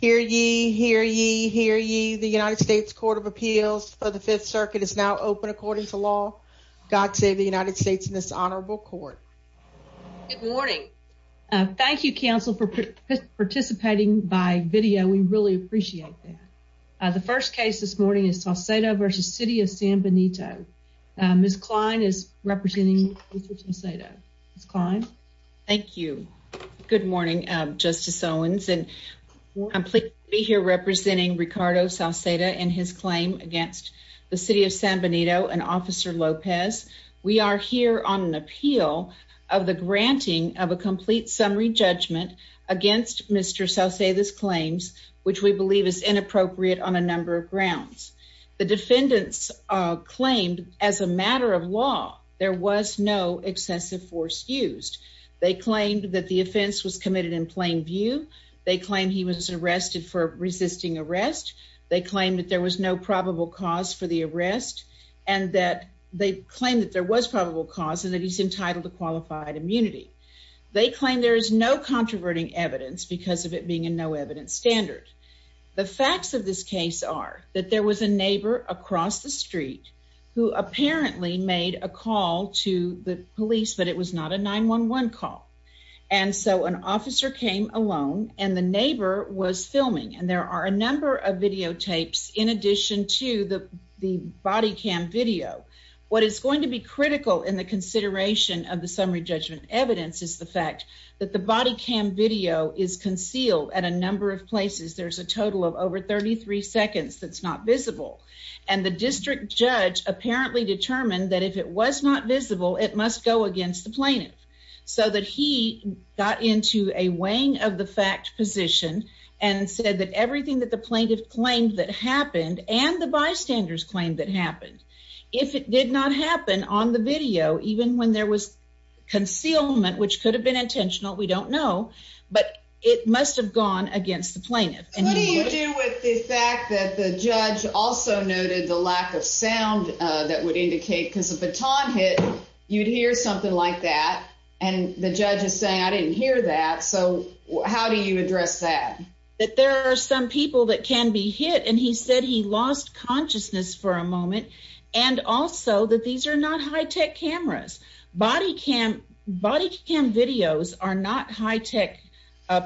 hear ye hear ye hear ye. The United States Court of Appeals for the Fifth Circuit is now open. According to law, God save the United States in this honorable court. Good morning. Thank you, Counsel, for participating by video. We really appreciate that. The first case this morning is Sauceda versus City of San Benito. Miss Klein is representing Mr. Sauceda. Miss I'm here representing Ricardo Sauceda and his claim against the city of San Benito and Officer Lopez. We are here on an appeal of the granting of a complete summary judgment against Mr. Sauceda's claims, which we believe is inappropriate on a number of grounds. The defendants claimed as a matter of law there was no excessive force used. They claimed that the offense was he was arrested for resisting arrest. They claimed that there was no probable cause for the arrest and that they claim that there was probable cause and that he's entitled to qualified immunity. They claim there is no controverting evidence because of it being a no evidence standard. The facts of this case are that there was a neighbor across the street who apparently made a call to the police, but it was not a 911 call. And so an officer came alone and the neighbor was filming, and there are a number of videotapes. In addition to the body cam video, what is going to be critical in the consideration of the summary judgment evidence is the fact that the body cam video is concealed at a number of places. There's a total of over 33 seconds that's not visible, and the district judge apparently determined that if it was not visible, it must go against the plaintiff so that he got into a weighing of the fact position and said that everything that the plaintiff claimed that happened and the bystanders claimed that happened if it did not happen on the video, even when there was concealment, which could have been intentional. We don't know, but it must have gone against the plaintiff. What do you do with the fact that the judge also noted the lack of sound that would indicate because of the time hit, you'd hear something like that. And the that. So how do you address that? That there are some people that can be hit, and he said he lost consciousness for a moment. And also that these are not high tech cameras. Body cam. Body cam videos are not high tech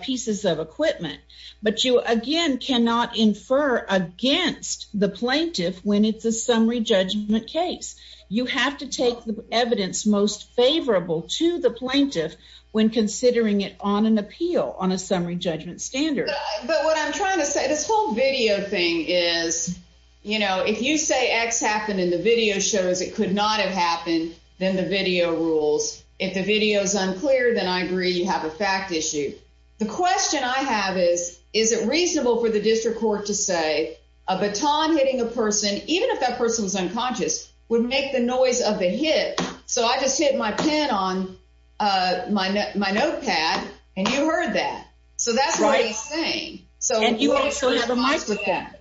pieces of equipment, but you again cannot infer against the plaintiff. When it's a summary judgment case, you have to take the evidence most favorable to the plaintiff when considering it on an appeal on a summary judgment standard. But what I'm trying to say, this whole video thing is, you know, if you say X happened in the video shows, it could not have happened. Then the video rules. If the video is unclear, then I agree you have a fact issue. The question I have is, is it reasonable for the district court to say a baton hitting a person, even if that person was unconscious, would make the noise of the hit. So I just hit my head on my my notepad. And you heard that. So that's right thing. So you also have a mic with that.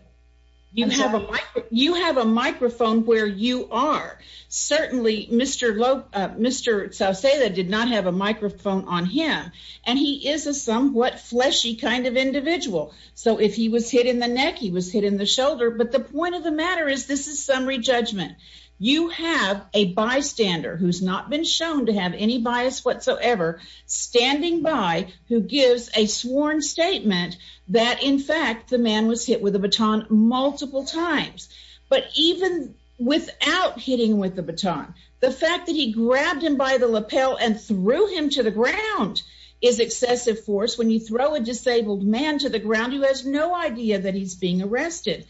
You have a mic. You have a microphone where you are. Certainly, Mr. Lowe, Mr. So say that did not have a microphone on him. And he is a somewhat fleshy kind of individual. So if he was hit in the neck, he was hit in the shoulder. But the point of the matter is this is summary judgment. You have a bystander who's not been shown to have any bias whatsoever standing by who gives a sworn statement that in fact the man was hit with a baton multiple times. But even without hitting with the baton, the fact that he grabbed him by the lapel and threw him to the ground is excessive force. When you throw a disabled man to the ground, he has no idea that he's being arrested.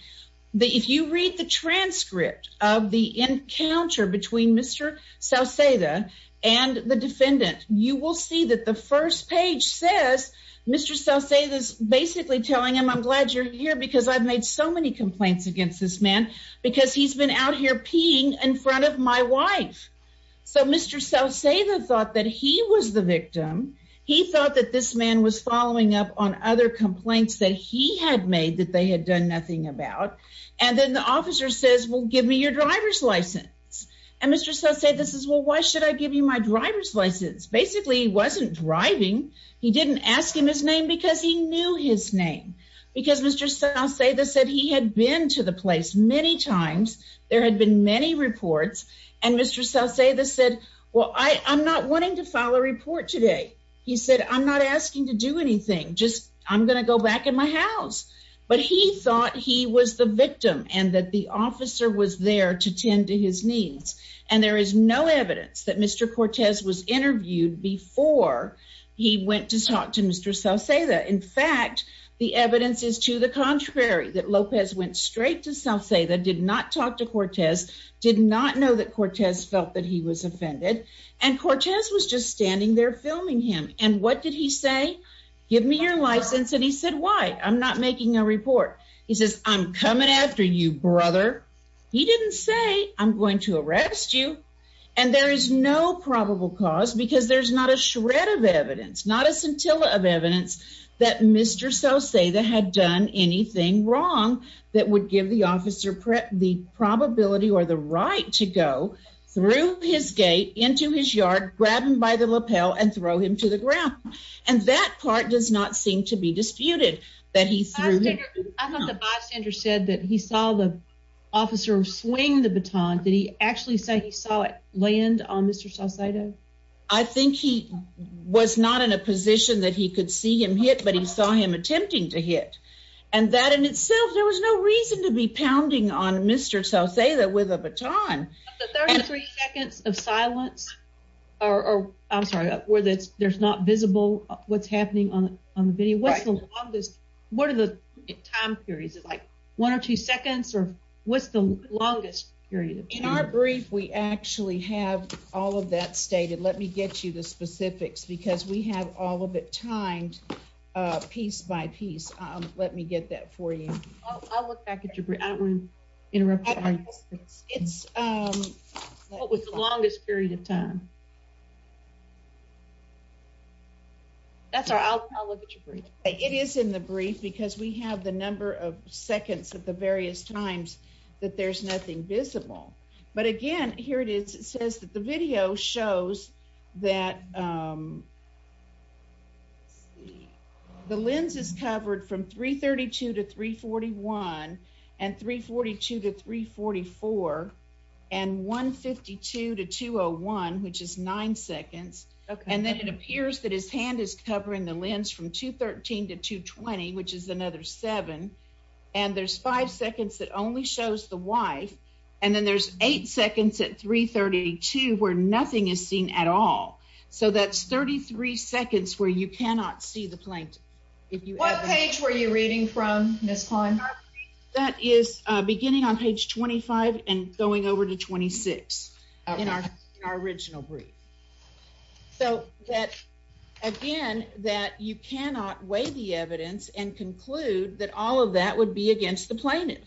That if you read the transcript of the encounter between Mr. So say that and the defendant, you will see that the first page says Mr. So say this basically telling him I'm glad you're here because I've made so many complaints against this man because he's been out here peeing in front of my wife. So Mr. So say the thought that he was the victim. He thought that this man was following up on other complaints that he had made that they had done nothing about. And then the officer says, well, give me your driver's license. And Mr. So say this is well, why should I give you my driver's license? Basically, he wasn't driving. He didn't ask him his name because he knew his name because Mr. So say this said he had been to the place many times. There had been many reports and Mr. So say this said, Well, I'm not wanting to follow a report today. He said, I'm not asking to do anything. Just I'm gonna go back in my and that the officer was there to tend to his needs. And there is no evidence that Mr. Cortez was interviewed before he went to talk to Mr. So say that. In fact, the evidence is to the contrary, that Lopez went straight to self say that did not talk to Cortez, did not know that Cortez felt that he was offended. And Cortez was just standing there filming him. And what did he say? Give me your license. And he said, Why? I'm not making a report. He says, I'm coming after you, brother. He didn't say I'm going to arrest you. And there is no probable cause because there's not a shred of evidence, not a scintilla of evidence that Mr. So say that had done anything wrong that would give the officer the probability or the right to go through his gate into his yard, grab him by the lapel and throw him to the ground. And that part does not seem to be disputed that he threw him. I thought the bystander said that he saw the officer swing the baton. Did he actually say he saw it land on Mr. So say that I think he was not in a position that he could see him hit, but he saw him attempting to hit and that in itself, there was no reason to be pounding on Mr. So say that with a baton, 33 seconds of silence or I'm not visible. What's happening on on the video? What's the longest? What are the time periods like one or two seconds? Or what's the longest period in our brief? We actually have all of that stated. Let me get you the specifics because we have all of it timed piece by piece. Um, let me get that for you. I'll look back at you. I don't want to interrupt. It's um, what was the longest period of time? That's our outlook. It is in the brief because we have the number of seconds of the various times that there's nothing visible. But again, here it is. It says that the video shows that, um, the lens is covered from 3 32 to 3 41 and 3 42 to 3 44 and 1 52 to 201, which is nine seconds. And then it appears that his hand is covering the lens from 2 13 to 2 20, which is another seven. And there's five seconds that only shows the wife. And then there's eight seconds at 3 32 where nothing is seen at all. So that's 33 seconds where you cannot see the plane. What page were you reading from this time? That is beginning on page 25 and going over to 26 in our original brief. So that again that you cannot weigh the evidence and conclude that all of that would be against the plaintiff.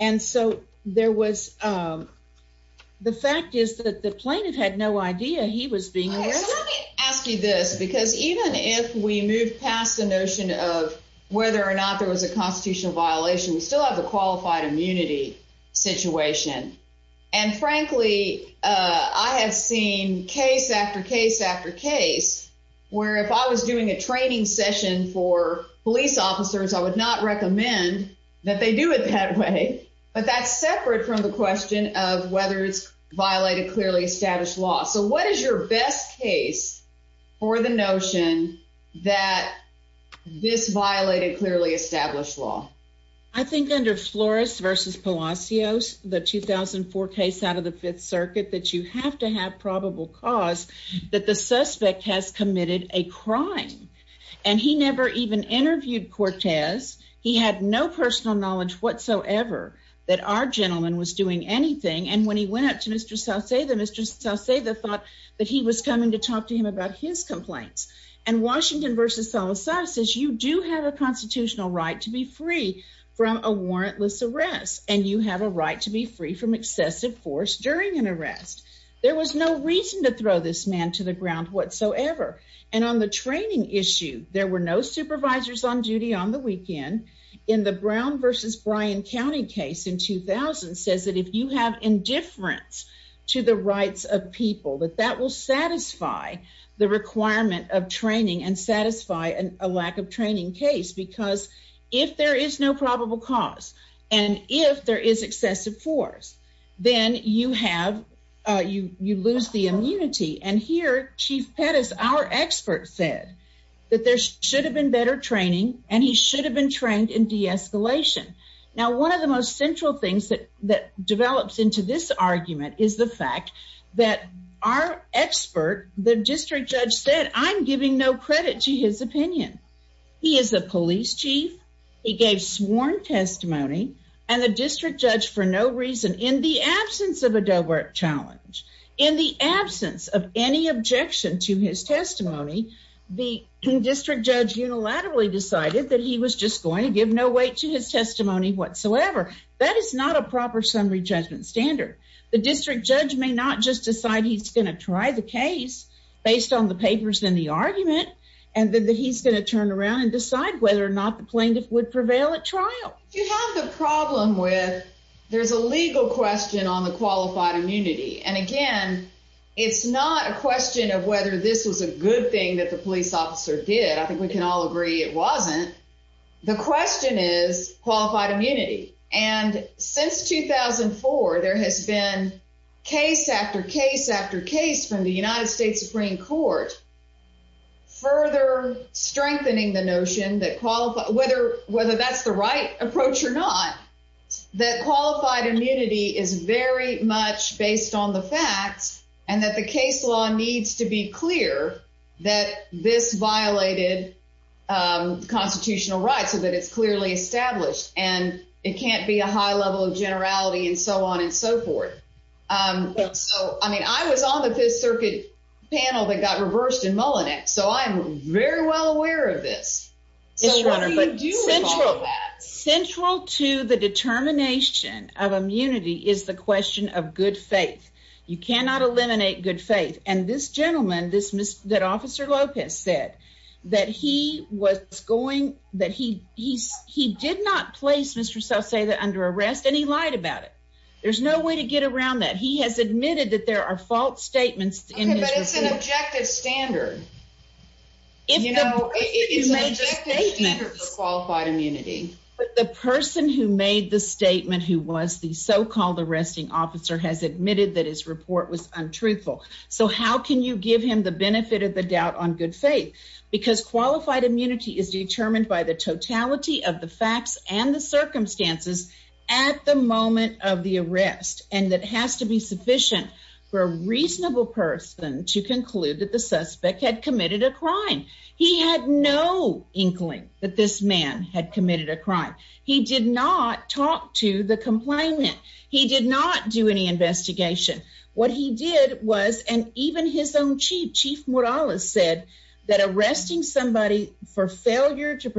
And so there was, um, the fact is that the plaintiff had no idea he was being asked you this because even if we move past the notion of whether or not there was a constitutional violation, we still have the qualified immunity situation. And frankly, I have seen case after case after case where, if I was doing a training session for police officers, I would not recommend that they do it that way. But that's separate from the question of whether it's violated clearly established law. So what is your best case for the notion that this violated clearly established law? I think under Flores versus Palacios, the 2000 four case out of the Fifth Circuit that you have to have probable cause that the suspect has committed a crime, and he never even interviewed Cortez. He had no personal knowledge whatsoever that our gentleman was doing anything. And when he went up to Mr South, say the mistress, I'll say the thought that he was coming to talk to him about his complaints and Washington versus Salazar says you do have a warrantless arrest, and you have a right to be free from excessive force during an arrest. There was no reason to throw this man to the ground whatsoever. And on the training issue, there were no supervisors on duty on the weekend in the Brown versus Bryan County case in 2000 says that if you have indifference to the rights of people that that will satisfy the requirement of training and satisfy a lack of training case. Because if there is no probable cause, and if there is excessive force, then you have you you lose the immunity. And here, Chief Pettis, our expert said that there should have been better training, and he should have been trained in de escalation. Now, one of the most central things that that develops into this argument is the fact that our expert, the district judge said, I'm giving no credit to his opinion. He is a police chief. He gave sworn testimony, and the district judge, for no reason in the absence of a Dober challenge in the absence of any objection to his testimony, the district judge unilaterally decided that he was just going to give no weight to his testimony whatsoever. That is not a proper summary judgment standard. The district judge may not just decide he's gonna try the case based on the argument and that he's gonna turn around and decide whether or not the plaintiff would prevail at trial. You have the problem with there's a legal question on the qualified immunity. And again, it's not a question of whether this was a good thing that the police officer did. I think we can all agree it wasn't. The question is qualified immunity. And since 2004, there has been case after case after case from the United States Supreme Court further strengthening the notion that qualified whether whether that's the right approach or not, that qualified immunity is very much based on the facts and that the case law needs to be clear that this violated constitutional rights so that it's clearly established, and it can't be a high level of generality and so on and so forth. Um, so I mean, I was on the Fifth Circuit panel that got reversed in Mullinex, so I'm very well aware of this. So what do you do? Central to the determination of immunity is the question of good faith. You cannot eliminate good faith. And this gentleman, this miss that Officer Lopez said that he was going that he he's he did not place Mr. So say that under arrest, and he lied about it. There's no way to get around that. He has admitted that there are false statements, but it's an objective standard. If you know, it's a major statement qualified immunity. But the person who made the statement who was the so called arresting officer has admitted that his report was untruthful. So how can you give him the benefit of the doubt on good faith? Because qualified immunity is determined by the totality of the circumstances at the moment of the arrest, and that has to be sufficient for a reasonable person to conclude that the suspect had committed a crime. He had no inkling that this man had committed a crime. He did not talk to the complainant. He did not do any investigation. What he did was and even his own chief, Chief Morales, said that arresting somebody for failure to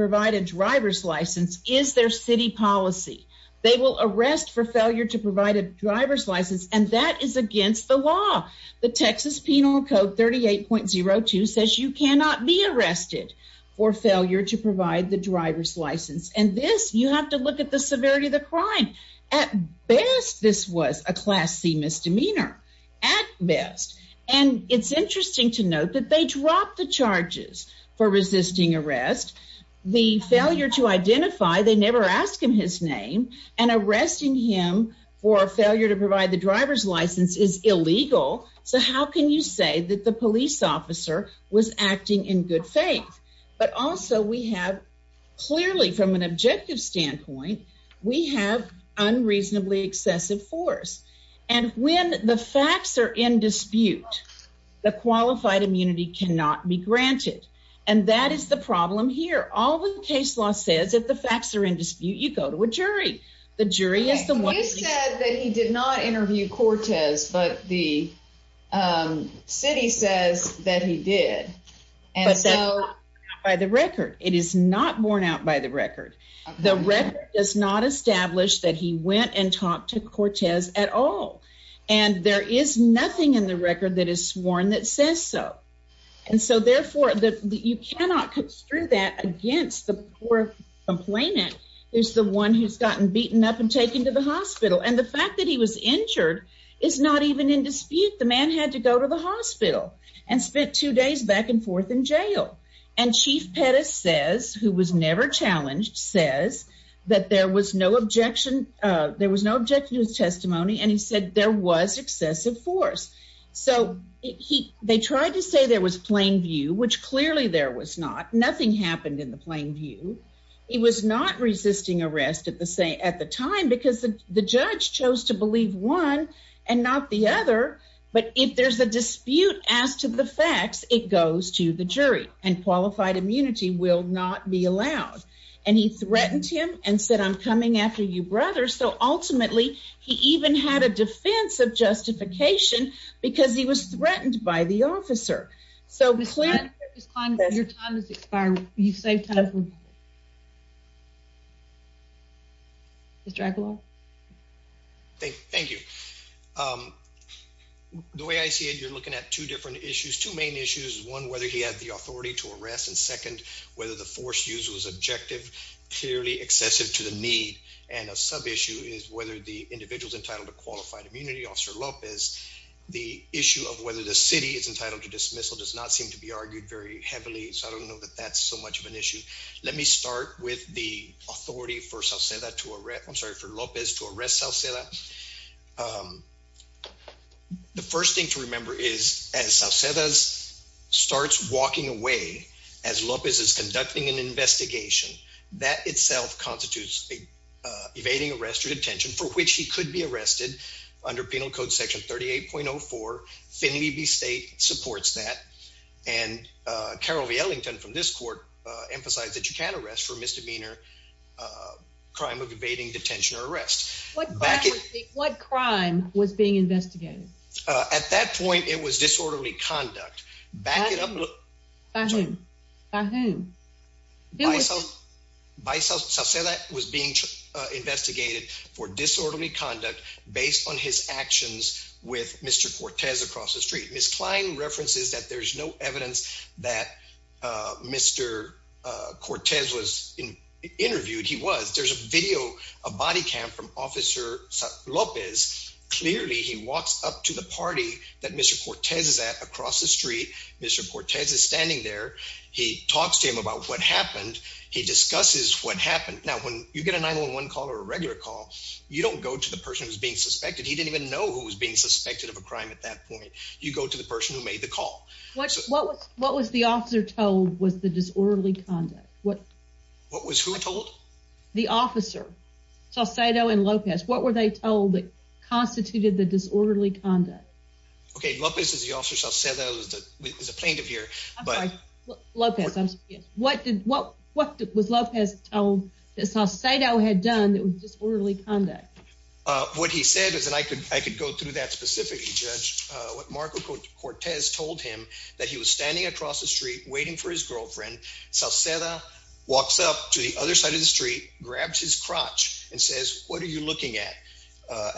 policy, they will arrest for failure to provide a driver's license, and that is against the law. The Texas Penal Code 38.02 says you cannot be arrested for failure to provide the driver's license. And this you have to look at the severity of the crime. At best, this was a Class C misdemeanor at best. And it's interesting to note that they dropped the charges for resisting arrest. The his name and arresting him for failure to provide the driver's license is illegal. So how can you say that the police officer was acting in good faith? But also we have clearly from an objective standpoint, we have unreasonably excessive force. And when the facts air in dispute, the qualified immunity cannot be granted. And that is the problem here. All the case law says that the facts are in dispute. You go to a jury. The jury is the one who said that he did not interview Cortez, but the city says that he did. And so by the record, it is not borne out by the record. The record does not establish that he went and talked to Cortez at all. And there is nothing in the record that is sworn that says so. And so therefore, you cannot construe that against the poor complainant is the one who's gotten beaten up and taken to the hospital. And the fact that he was injured is not even in dispute. The man had to go to the hospital and spent two days back and forth in jail. And Chief Pettis says, who was never challenged, says that there was no objection. There was no objection to his testimony. And he said there was excessive force. So he they tried to say there was plain view, which clearly there was not. Nothing happened in the plain view. He was not resisting arrest at the same at the time because the judge chose to believe one and not the other. But if there's a dispute as to the facts, it goes to the jury and qualified immunity will not be allowed. And he threatened him and said, I'm coming after you, brother. So ultimately, he even had a defense of justification because he was threatened by the officer. So we plan on your time is expiring. You save time. It's Dracula. Thank you. Um, the way I see it, you're looking at two different issues. Two main issues. One, whether he had the authority to arrest and second, whether the force use was objective, clearly excessive to the need. And a sub issue is whether the individual's entitled to qualified immunity. Officer Lopez. The issue of whether the city is entitled to dismissal does not seem to be argued very heavily. So I don't know that that's so much of an issue. Let me start with the authority for South Center to arrest. I'm sorry for Lopez to arrest South Center. Um, the first thing to remember is, as I said, as starts walking away as Lopez is conducting an investigation that itself constitutes evading arrest or detention for which he could be arrested under Penal Code Section 38.4. Finley B. State supports that. And, uh, Carol V. Ellington from this court emphasized that you can arrest for misdemeanor, uh, crime of evading detention or arrest. What back? What crime was being investigated? At that point, it was disorderly conduct. Back it up. By whom? By whom? By South said that was being investigated for disorderly conduct based on his actions with Mr. Cortez across the street. Miss Klein references that there's no evidence that Mr. Cortez was interviewed. He was. There's a video, a body cam from Officer Lopez. Clearly, he walks up to the party that Mr. Cortez is standing there. He talks to him about what happened. He discusses what happened. Now, when you get a 911 call or a regular call, you don't go to the person who's being suspected. He didn't even know who was being suspected of a crime. At that point, you go to the person who made the call. What? What? What was the officer told? Was the disorderly conduct? What? What was who told the officer? So I'll say no. And Lopez, what were they told that constituted the disorderly conduct? Okay, Lopez is also said that was the plaintiff here. But Lopez, what? What? What was love? Has told this? I'll say no had done. It was disorderly conduct. What he said is that I could I could go through that specifically. Judge Marco Cortez told him that he was standing across the street waiting for his girlfriend. So Sarah walks up to the other side of the street, grabs his crotch and says, What are you looking at?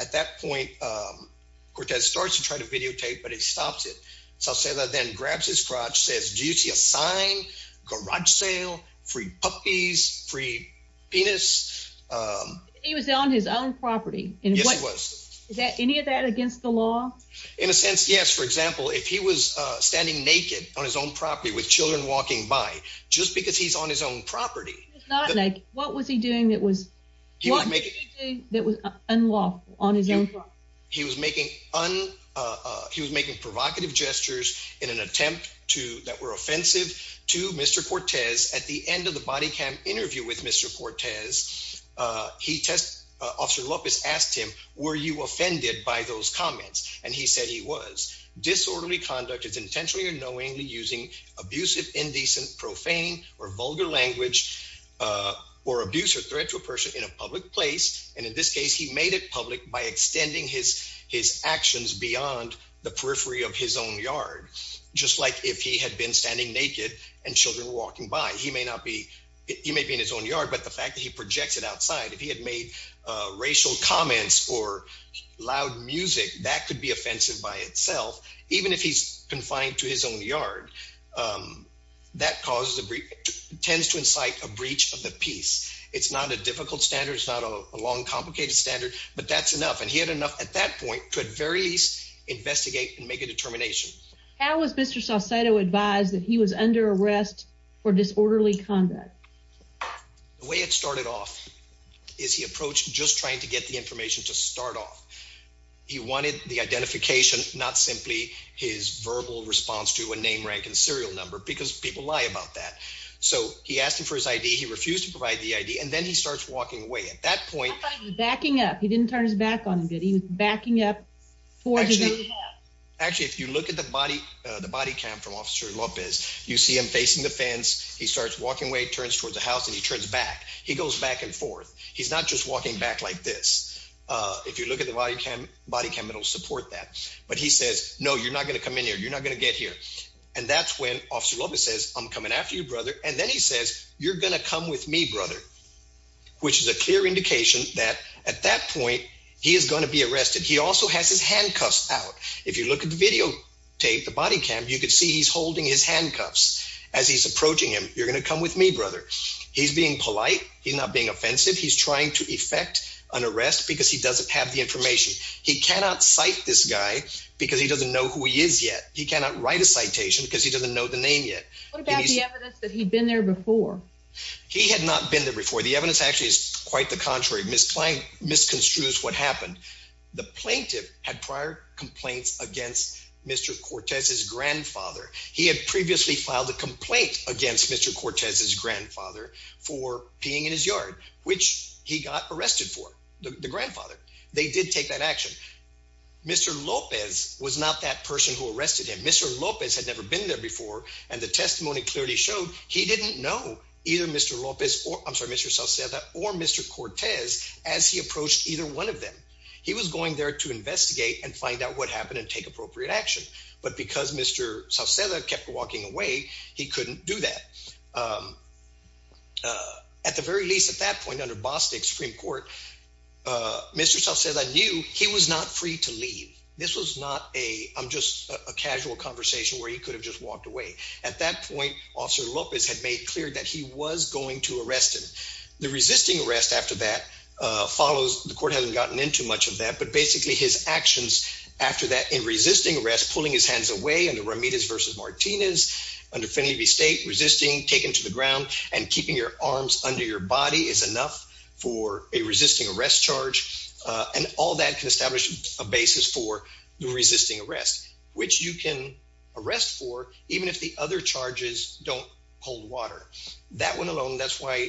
At that point, um, Cortez starts to try to videotape, but he stops it. So I'll say that then grabs his crotch, says, Do you see a sign garage sale? Free puppies? Free penis? Um, he was on his own property and what was that? Any of that against the law? In a sense, yes. For example, if he was standing naked on his own property with Children walking by just because he's on his own property, not like what was he doing? That was he he was making on. Uh, he was making provocative gestures in an attempt to that were offensive to Mr Cortez at the end of the body cam interview with Mr Cortez. Uh, he test Officer Lopez asked him, Were you offended by those comments? And he said he was disorderly conduct. It's intentionally or knowingly using abusive, indecent, profane or vulgar language, uh, or abuse or threat to a person in a public place. And in this case, he made it by extending his his actions beyond the periphery of his own yard. Just like if he had been standing naked and Children walking by, he may not be. He may be in his own yard, but the fact that he projected outside if he had made racial comments or loud music that could be offensive by itself, even if he's confined to his own yard, um, that causes a brief tends to incite a breach of the peace. It's not a difficult standards, not a long, complicated standard, but that's enough. And he had enough at that point could very least investigate and make a determination. How was Mr Saucedo advised that he was under arrest for disorderly conduct? The way it started off is he approached just trying to get the information to start off. He wanted the identification, not simply his verbal response to a name, rank and serial number because people lie about that. So he asked him for his I. D. He refused to provide the I. D. And then he starts walking away. At that point, backing up, he didn't turn his back on getting backing up for actually, actually, if you look at the body, the body cam from Officer Lopez, you see him facing the fence. He starts walking away, turns towards the house and he turns back. He goes back and forth. He's not just walking back like this. Uh, if you look at the body cam body cam, it will support that. But he says, No, you're not gonna come in here. You're not gonna get here. And that's when Officer Lopez says, I'm coming after you, brother. And then he says, You're a clear indication that at that point he is gonna be arrested. He also has his handcuffs out. If you look at the video tape, the body cam, you could see he's holding his handcuffs as he's approaching him. You're gonna come with me, brother. He's being polite. He's not being offensive. He's trying to effect an arrest because he doesn't have the information. He cannot cite this guy because he doesn't know who he is yet. He cannot write a citation because he doesn't know the name yet. What about the evidence that he'd been there before? He had not been there before. The evidence actually is quite the contrary. Miss Klein misconstrues what happened. The plaintiff had prior complaints against Mr Cortez's grandfather. He had previously filed a complaint against Mr Cortez's grandfather for peeing in his yard, which he got arrested for the grandfather. They did take that action. Mr Lopez was not that person who arrested him. Mr Lopez had never been there before, and the testimony clearly showed he didn't know either Mr Lopez or I'm sorry, Mr Salceda or Mr Cortez as he approached either one of them. He was going there to investigate and find out what happened and take appropriate action. But because Mr Salceda kept walking away, he couldn't do that. Um, uh, at the very least, at that point, under Boston Supreme Court, uh, Mr Salceda knew he was not free to leave. This was not a I'm just a casual conversation where he could have just walked away. At that point, Officer Lopez had made clear that he was going to arrest him. The resisting arrest after that follows. The court hasn't gotten into much of that, but basically his actions after that in resisting arrest, pulling his hands away under Ramirez versus Martinez under Finley v State resisting taken to the ground and keeping your arms under your body is enough for a resisting arrest charge. And all that can establish a basis for resisting arrest, which you can arrest for even if the other charges don't hold water. That went alone. That's why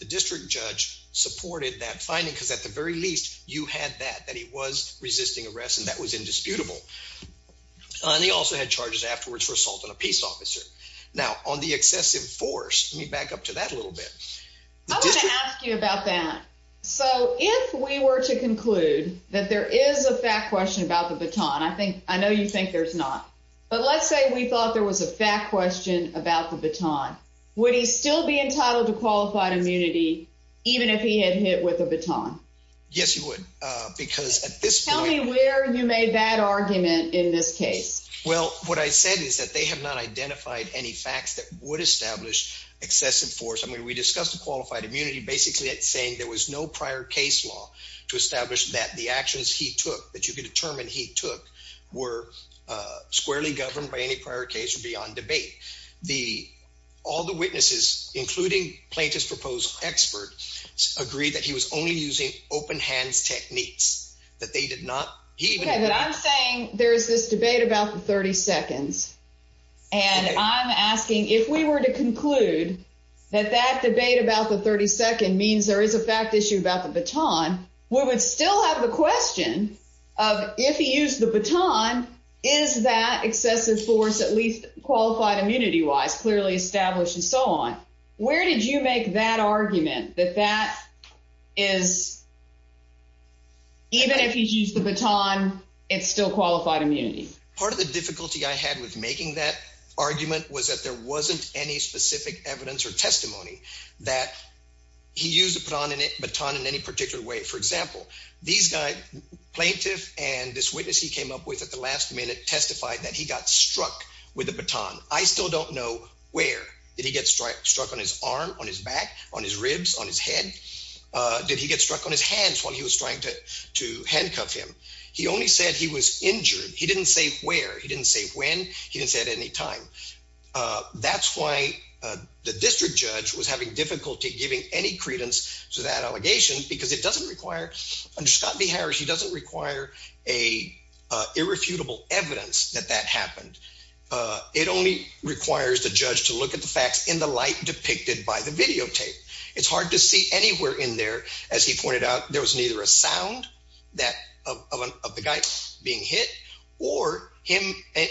the district judge supported that finding, because at the very least, you had that that he was resisting arrest, and that was indisputable. And he also had charges afterwards for assault on a peace officer. Now, on the excessive force, let me back up to that a little bit. I want to ask you about that. So if we were to conclude that there is a fact question about the baton, I think I know you think there's not. But let's say we thought there was a fact question about the baton. Would he still be entitled to qualified immunity even if he had hit with a baton? Yes, you would, because at this tell me where you made that argument in this case? Well, what I said is that they have not identified any facts that would establish excessive force. I mean, we discussed qualified immunity basically saying there was no prior case law to establish that the actions he took that you could determine he took were squarely governed by any prior case beyond debate. The all the witnesses, including plaintiff's proposal expert, agree that he was only using open hands techniques that they did not. I'm saying there is this debate about the 30 seconds, and I'm asking if we were to conclude that that debate about the 32nd means there is a fact issue about the baton. We would still have the question of if he used the baton, is that excessive force at least qualified immunity wise, clearly established and so on. Where did you make that argument that that is even if he's used the baton, it's still qualified immunity. Part of the difficulty I had with making that argument was that there wasn't any specific evidence or testimony that he used to put on a baton in any particular way. For example, these guy plaintiff and this witness he came up with at the last minute testified that he got struck with the baton. I still don't know where did he get struck struck on his arm on his back on his ribs on his head. Did he get struck on his hands while he was trying to to handcuff him? He only said he was injured. He didn't say where he didn't say when he didn't say at any time. Uh, that's why the district judge was having difficulty giving any credence to that allegation because it doesn't require under scott v. Harris. He doesn't require a irrefutable evidence that that happened. Uh, it only requires the judge to look at the facts in the light depicted by the videotape. It's hard to see anywhere in there. As he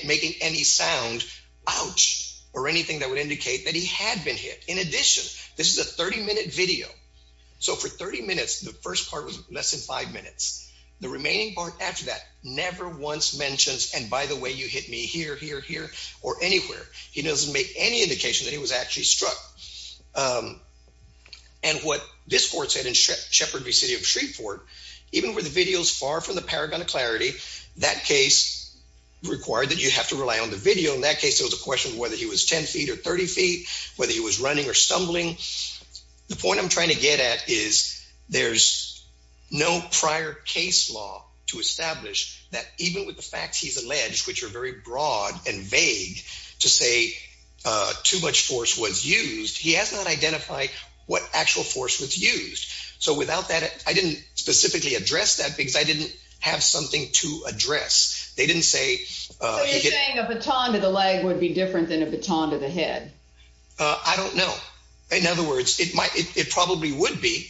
making any sound ouch or anything that would indicate that he had been hit. In addition, this is a 30 minute video. So for 30 minutes, the first part was less than five minutes. The remaining part after that never once mentions. And by the way, you hit me here, here, here or anywhere. He doesn't make any indication that he was actually struck. Um, and what this court said in Sheppard v. City of Shreveport, even with the videos far from the paragon of clarity, that case required that you have to rely on the video. In that case, it was a question whether he was 10 ft or 30 ft, whether he was running or stumbling. The point I'm trying to get at is there's no prior case law to establish that even with the facts, he's alleged, which are very broad and vague to say too much force was used. He has not identified what actual force was used. So without that, I didn't specifically address that because I something to address. They didn't say you're saying a baton to the leg would be different than a baton to the head. I don't know. In other words, it might. It probably would be.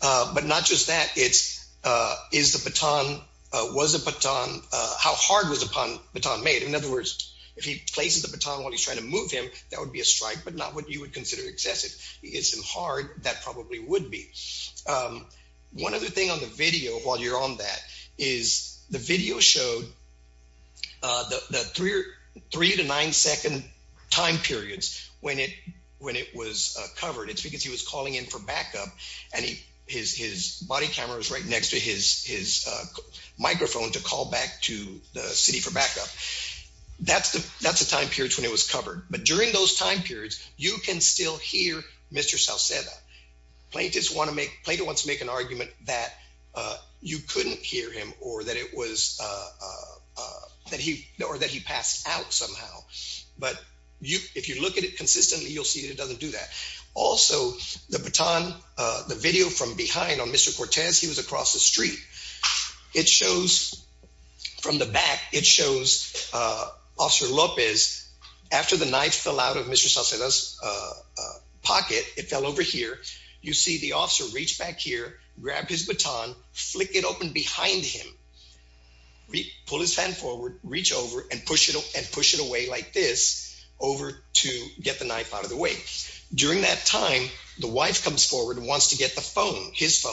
But not just that. It's uh, is the baton was a baton. How hard was upon baton made? In other words, if he places the baton while he's trying to move him, that would be a strike. But not what you would consider excessive. It's hard. That probably would be. Um, one other thing on the video while you're on that is the video showed the 3 to 9 2nd time periods when it when it was covered. It's because he was calling in for backup, and his body cameras right next to his microphone to call back to the city for backup. That's that's the time periods when it was covered. But during those time periods, you can still hear Mr South plaintiffs want to make Plato wants to make an argument that you couldn't hear him or that it was, uh, that he or that he passed out somehow. But if you look at it consistently, you'll see it doesn't do that. Also, the baton, the video from behind on Mr Cortez. He was across the street. It shows from the back. It shows, uh, Officer Lopez. After the knife fell out of Mr Sosa's, uh, here, you see the officer reached back here, grabbed his baton, flicked it open behind him. We pull his hand forward, reach over and push it and push it away like this over to get the knife out of the way. During that time, the wife comes forward and wants to get the phone his phone.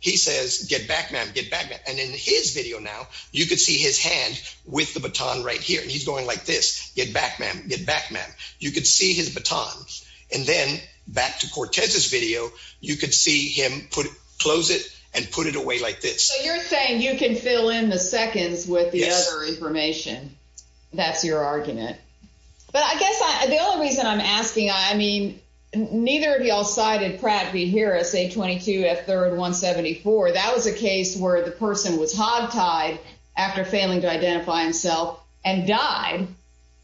He says, Get back, ma'am. Get back. And in his video now, you could see his hand with the baton right here. He's going like this. Get back, ma'am. Get back, ma'am. You could see his time. And then back to Cortez's video, you could see him put, close it and put it away like this. You're saying you can fill in the seconds with the other information. That's your argument. But I guess the only reason I'm asking, I mean, neither of y'all cited Pratt be here. I say 22 at 3rd 1 74. That was a case where the person was hogtied after failing to identify himself and died.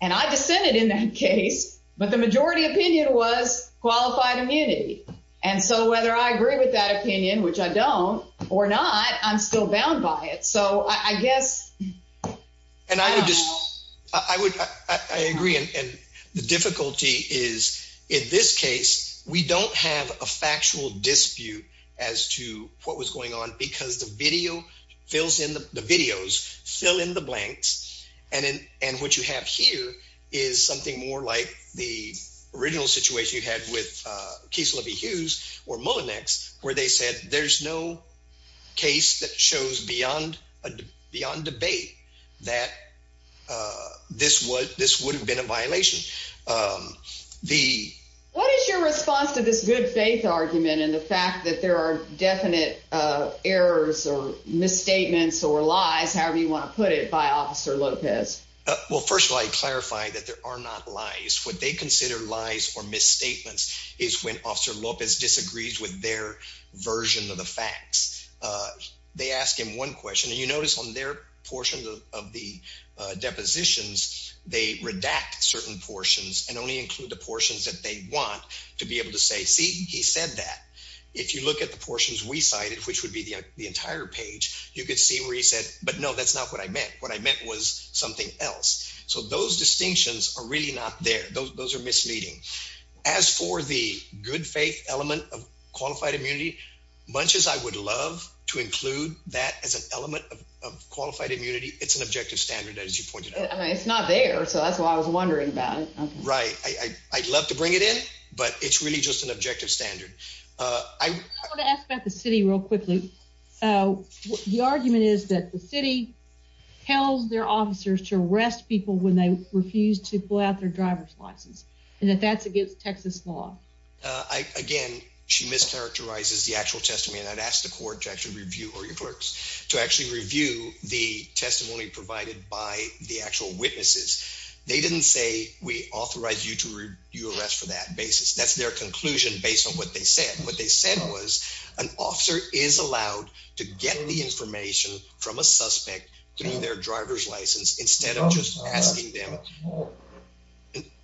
And I dissented in that case. But the majority opinion was qualified immunity. And so whether I agree with that opinion, which I don't or not, I'm still bound by it. So I guess and I would just I would I agree. And the difficulty is, in this case, we don't have a factual dispute as to what was going on because the video fills in the videos fill in the blanks. And and what you have here is something more like the original situation you had with, uh, case will be Hughes or Mullinex, where they said there's no case that shows beyond beyond debate that, uh, this was this would have been a violation. Um, the what is your response to this good faith argument in the fact that there are definite errors or misstatements or lies, however you want to put it by Officer Lopez? Well, first of all, I clarify that there are not lies. What they consider lies or misstatements is when Officer Lopez disagrees with their version of the facts. Uh, they ask him one question, and you notice on their portions of the depositions, they redact certain portions and only include the portions that they want to be able to say. See, he said that if you look at the page, you could see where he said. But no, that's not what I meant. What I meant was something else. So those distinctions are really not there. Those are misleading. As for the good faith element of qualified immunity bunches, I would love to include that as an element of qualified immunity. It's an objective standard, as you pointed out. It's not there. So that's why I was wondering about it, right? I'd love to bring it in, but it's really just an objective standard. I want to ask about the city real quickly. The argument is that the city tells their officers to arrest people when they refuse to pull out their driver's license, and that that's against Texas law. Again, she mischaracterizes the actual testimony that asked the court to actually review or your clerks to actually review the testimony provided by the actual witnesses. They didn't say we authorize you to you arrest for that basis. That's their conclusion. Based on what they said, what they said was an officer is allowed to get the information from a suspect through their driver's license instead of just asking them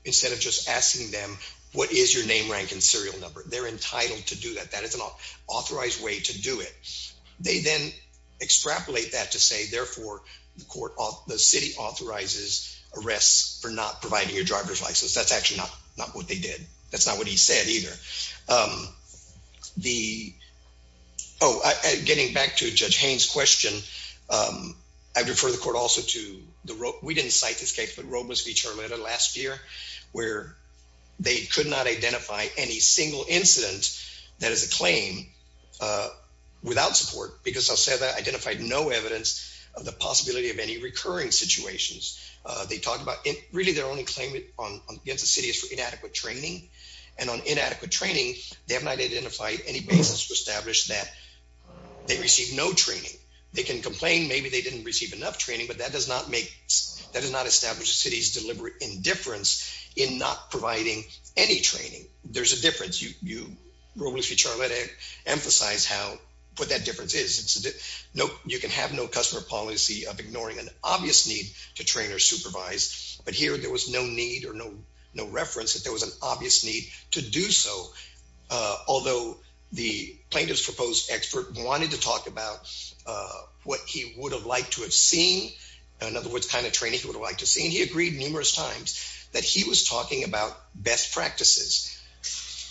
instead of just asking them. What is your name, rank and serial number? They're entitled to do that. That is an authorized way to do it. They then extrapolate that to say, therefore, the court off the city authorizes arrests for not providing your driver's license. That's actually not not what they did. That's not what he said either. Um, the Oh, getting back to Judge Haynes question. Um, I refer the court also to the road. We didn't cite this case, but Robles v. Charlotta last year, where they could not identify any single incident that is a claim, uh, without support because I'll say that identified no evidence of the possibility of any recurring situations. They talked about it. Really, they're only claim it on against the city is for inadequate training and on inadequate training. They have not identified any basis to establish that they received no training. They can complain. Maybe they didn't receive enough training, but that does not make that is not established. City's deliberate indifference in not providing any training. There's a difference. You you were with you, Charlotte. Emphasize how put that difference is. No, you can have no customer policy of ignoring an obvious need to train or supervise. But here there was no need or no, no reference that there was an obvious need to do so. Although the plaintiff's proposed expert wanted to talk about what he would have liked to have seen. In other words, kind of training would like to see he agreed numerous times that he was talking about best practices.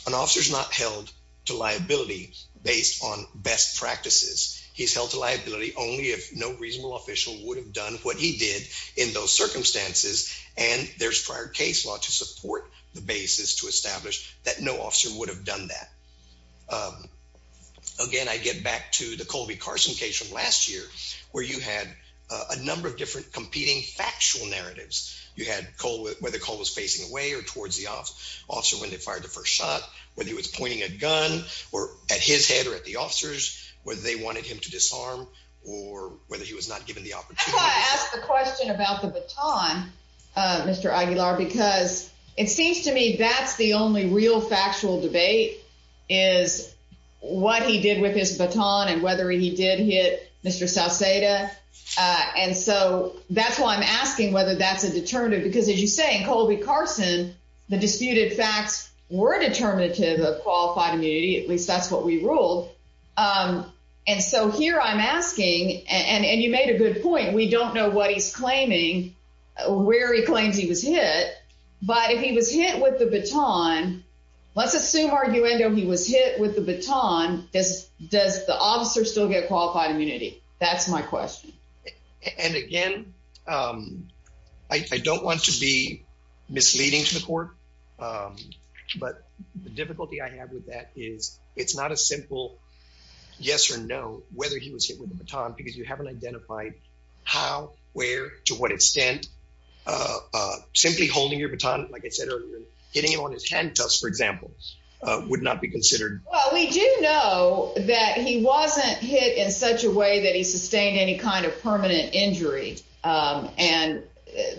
An officer's not held to liability based on best practices. He's held to no reasonable official would have done what he did in those circumstances. And there's prior case law to support the basis to establish that no officer would have done that. Um, again, I get back to the Colby Carson case from last year, where you had a number of different competing factual narratives. You had cold with where the call was facing away or towards the off officer when they fired the first shot, whether he was pointing a gun or at his head or at the he was not given the opportunity to ask the question about the baton, Mr Aguilar, because it seems to me that's the only real factual debate is what he did with his baton and whether he did hit Mr South Seda. And so that's why I'm asking whether that's a deterrent. Because, as you say, Colby Carson, the disputed facts were determinative of qualified immunity. At least that's what we ruled. Um, and so here I'm asking, and you made a good point. We don't know what he's claiming, where he claims he was hit. But if he was hit with the baton, let's assume arguendo he was hit with the baton. Does does the officer still get qualified immunity? That's my question. And again, um, I don't want to be misleading to the court. Um, but the simple yes or no, whether he was hit with the baton because you haven't identified how, where, to what extent, uh, simply holding your baton, like I said earlier, getting on his hand cuffs, for example, would not be considered. Well, we do know that he wasn't hit in such a way that he sustained any kind of permanent injury. Um, and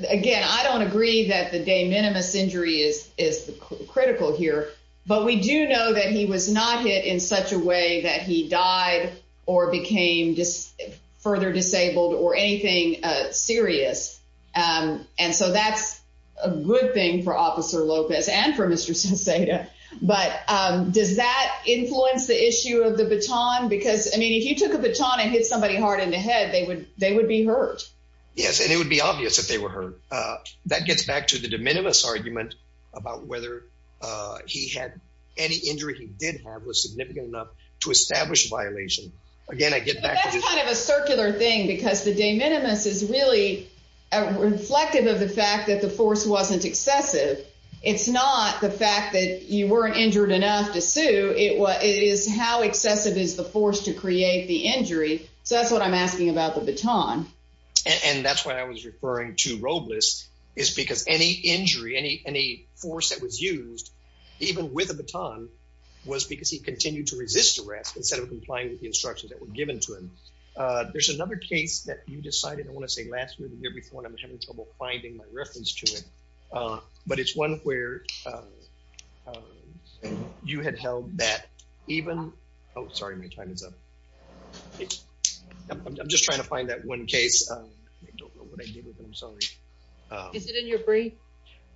again, I don't agree that the de minimis injury is critical here. But we do know that he was not hit in such a way that he died or became just further disabled or anything serious. Um, and so that's a good thing for Officer Lopez and for Mr Sosa. But does that influence the issue of the baton? Because I mean, if you took a baton and hit somebody hard in the head, they would they would be hurt. Yes, and it would be obvious if they were hurt. That gets back to the de minimis argument about whether, uh, he had any injury he did have was significant enough to establish violation. Again, I get back kind of a circular thing because the de minimis is really reflective of the fact that the force wasn't excessive. It's not the fact that you weren't injured enough to sue. It is how excessive is the force to create the injury. So that's what I'm asking about the baton. And that's why I was referring to Robles is because any injury, any any force that was used even with the baton was because he continued to resist arrest instead of complying with the instructions that were given to him. Uh, there's another case that you decided. I want to say last year before I'm having trouble finding my reference to it. Uh, but it's one where, uh, you had held that even. Oh, sorry. My time is up. I'm just trying to find that one case. Uh, I don't know what I did with him. Sorry. Is it in your brief?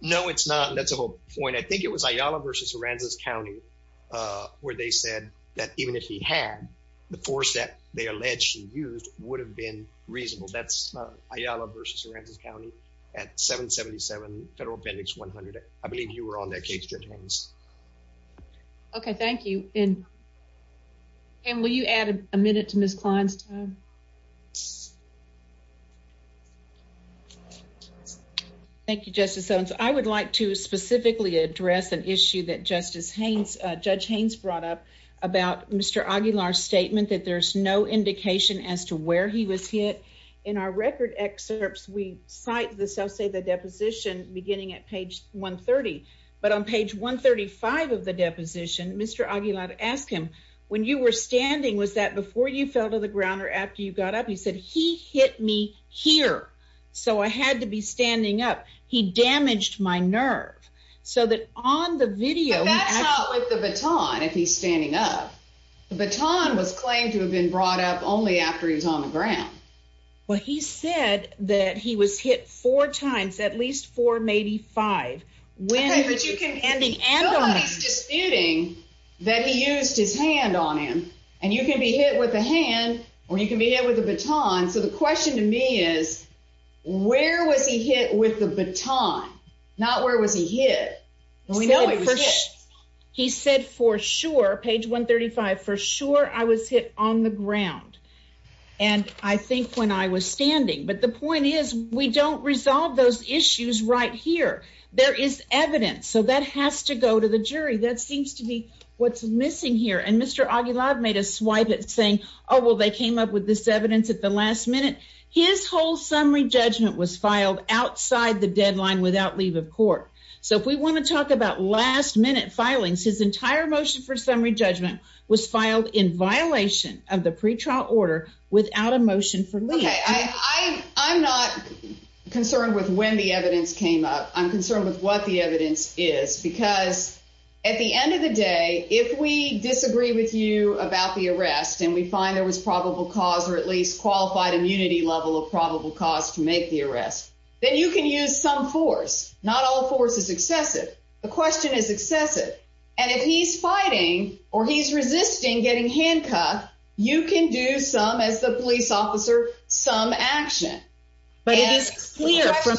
No, it's not. That's a whole point. I think it was Ayala versus Aransas County, uh, where they said that even if he had the force that they allegedly used would have been reasonable. That's Ayala versus Aransas County at 777 Federal Appendix 100. I believe you were on that case, Judge Holmes. Okay, thank you. And will you add a minute to Miss Klein's time? Thank you, Justice. So I would like to specifically address an issue that Justice Haynes, Judge Haynes brought up about Mr Aguilar statement that there's no indication as to where he was hit. In our record excerpts, we cite the self say the deposition beginning at page 1 30. But on page 1 35 of the deposition, Mr Aguilar asked him when you were standing, was that before you fell to the ground or after you got up? He said he hit me here, so I had to be standing up. He damaged my nerve so that on the video with the baton, if he's standing up, the baton was claimed to have been brought up only after he was on the ground. Well, he said that he was hit four times, at least for maybe five. When you can ending and on disputing that he used his hand on him and you can be hit with a hand or you can be hit with a baton. So the question to me is, where was he hit with the baton? Not where was he hit? No, he said for sure. Page 1 35 for sure. I was hit on the ground and I think when I was standing. But the point is, we don't resolve those issues right here. There is evidence, so that has to go to the jury. That seems to be what's missing here. And Mr Aguilar made a swipe at saying, Oh, well, they came up with this evidence at the last minute. His whole summary judgment was filed outside the deadline without leave of court. So if we want to talk about last minute filings, his entire motion for summary judgment was filed in violation of the pretrial order without emotion for me. I'm not concerned with when the evidence came up. I'm concerned with what the evidence is, because at the end of the day, if we disagree with you about the arrest and we find there was probable cause or at least qualified immunity level of probable cause to make the arrest, then you can use some force. Not all force is excessive. The question is excessive. And if he's fighting or he's resisting getting handcuffed, you can do some as the police officer some action. But it is clear from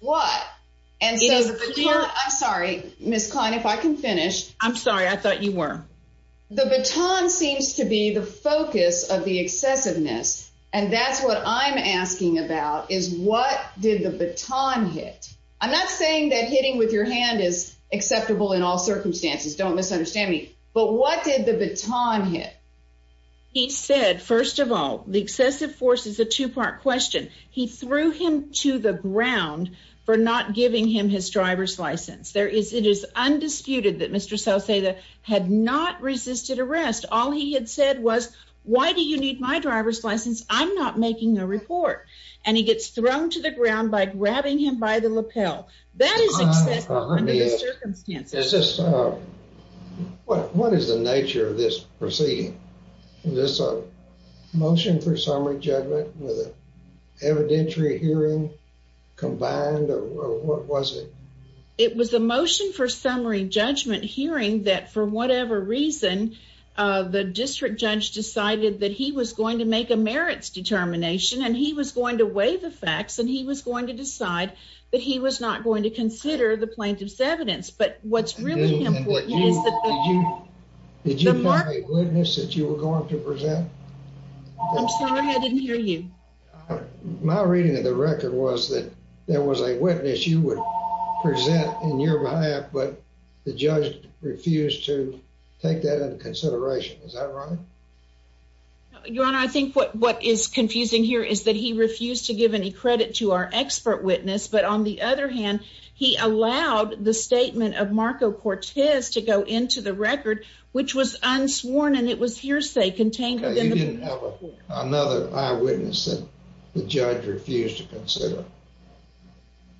what? And so I'm sorry, Miss Klein, if I can finish. I'm sorry. I thought you were. The baton seems to be the focus of the excessiveness. And that's what I'm asking about is what did the baton hit? I'm not saying that hitting with your hand is acceptable in all circumstances. Don't understand me. But what did the baton hit? He said, First of all, the excessive force is a two part question. He threw him to the ground for not giving him his driver's license. There is. It is undisputed that Mr. So say that had not resisted arrest. All he had said was, Why do you need my driver's license? I'm not making a report. And he gets thrown to the ground by grabbing him by the lapel. That is me. What? What is the nature of this proceeding? This motion for summary judgment evidentiary hearing combined? What was it? It was the motion for summary judgment hearing that for whatever reason, the district judge decided that he was going to make a merits determination and he was going to weigh the facts and he was going to decide that he was not going to consider the plaintiff's evidence. But what's really important is that did you have a witness that you were going to present? I'm sorry. I didn't hear you. My reading of the record was that there was a witness you would present in your behalf, but the judge refused to take that into consideration. Is that right? Your Honor, I think what is confusing here is that he refused to give any he allowed the statement of Marco Cortez to go into the record, which was unsworn and it was hearsay contained. You didn't have another eyewitness that the judge refused to consider.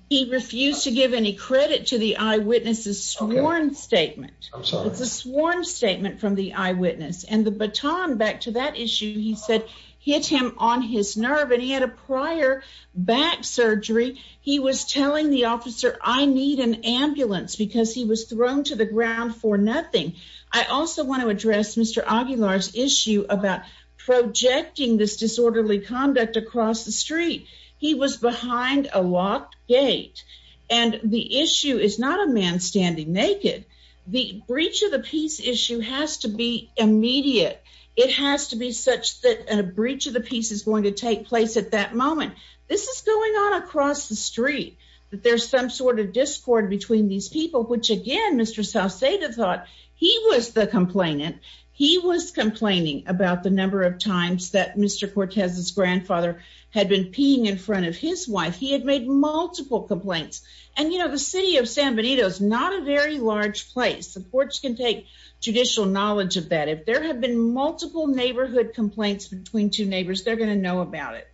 He refused to give any credit to the eyewitnesses sworn statement. It's a sworn statement from the eyewitness and the baton back to that issue, he said, hit him on his nerve and he had a prior back surgery. He was telling the officer I need an ambulance because he was thrown to the ground for nothing. I also want to address Mr Aguilar's issue about projecting this disorderly conduct across the street. He was behind a locked gate and the issue is not a man standing naked. The breach of the peace issue has to be immediate. It has to be such that a breach of the peace is going to take place at that moment. This is going on across the street that there's some sort of discord between these people, which again, Mr Saucedo thought he was the complainant. He was complaining about the number of times that Mr Cortez's grandfather had been peeing in front of his wife. He had made multiple complaints and, you know, the city of San Benito is not a very large place. Supports can take judicial knowledge of that. If there have been multiple neighborhood complaints between two neighbors, they're going to know about it.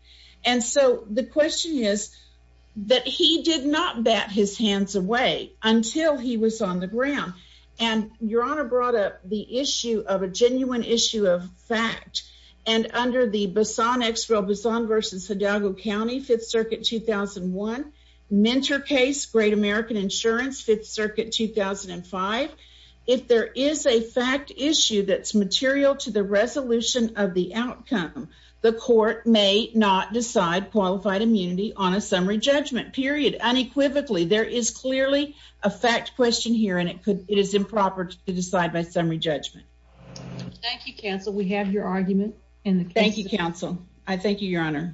And so the question is that he did not bat his hands away until he was on the ground. And your honor brought up the issue of a genuine issue of fact. And under the Basan Expo, Basan versus Hidalgo County, 5th Circuit, 2001 mentor case, Great American Insurance, 5th Circuit, 2005. If there is a fact issue that's come, the court may not decide qualified immunity on a summary judgment period. Unequivocally, there is clearly a fact question here, and it is improper to decide by summary judgment. Thank you, Counsel. We have your argument. Thank you, Counsel. I thank you, Your Honor.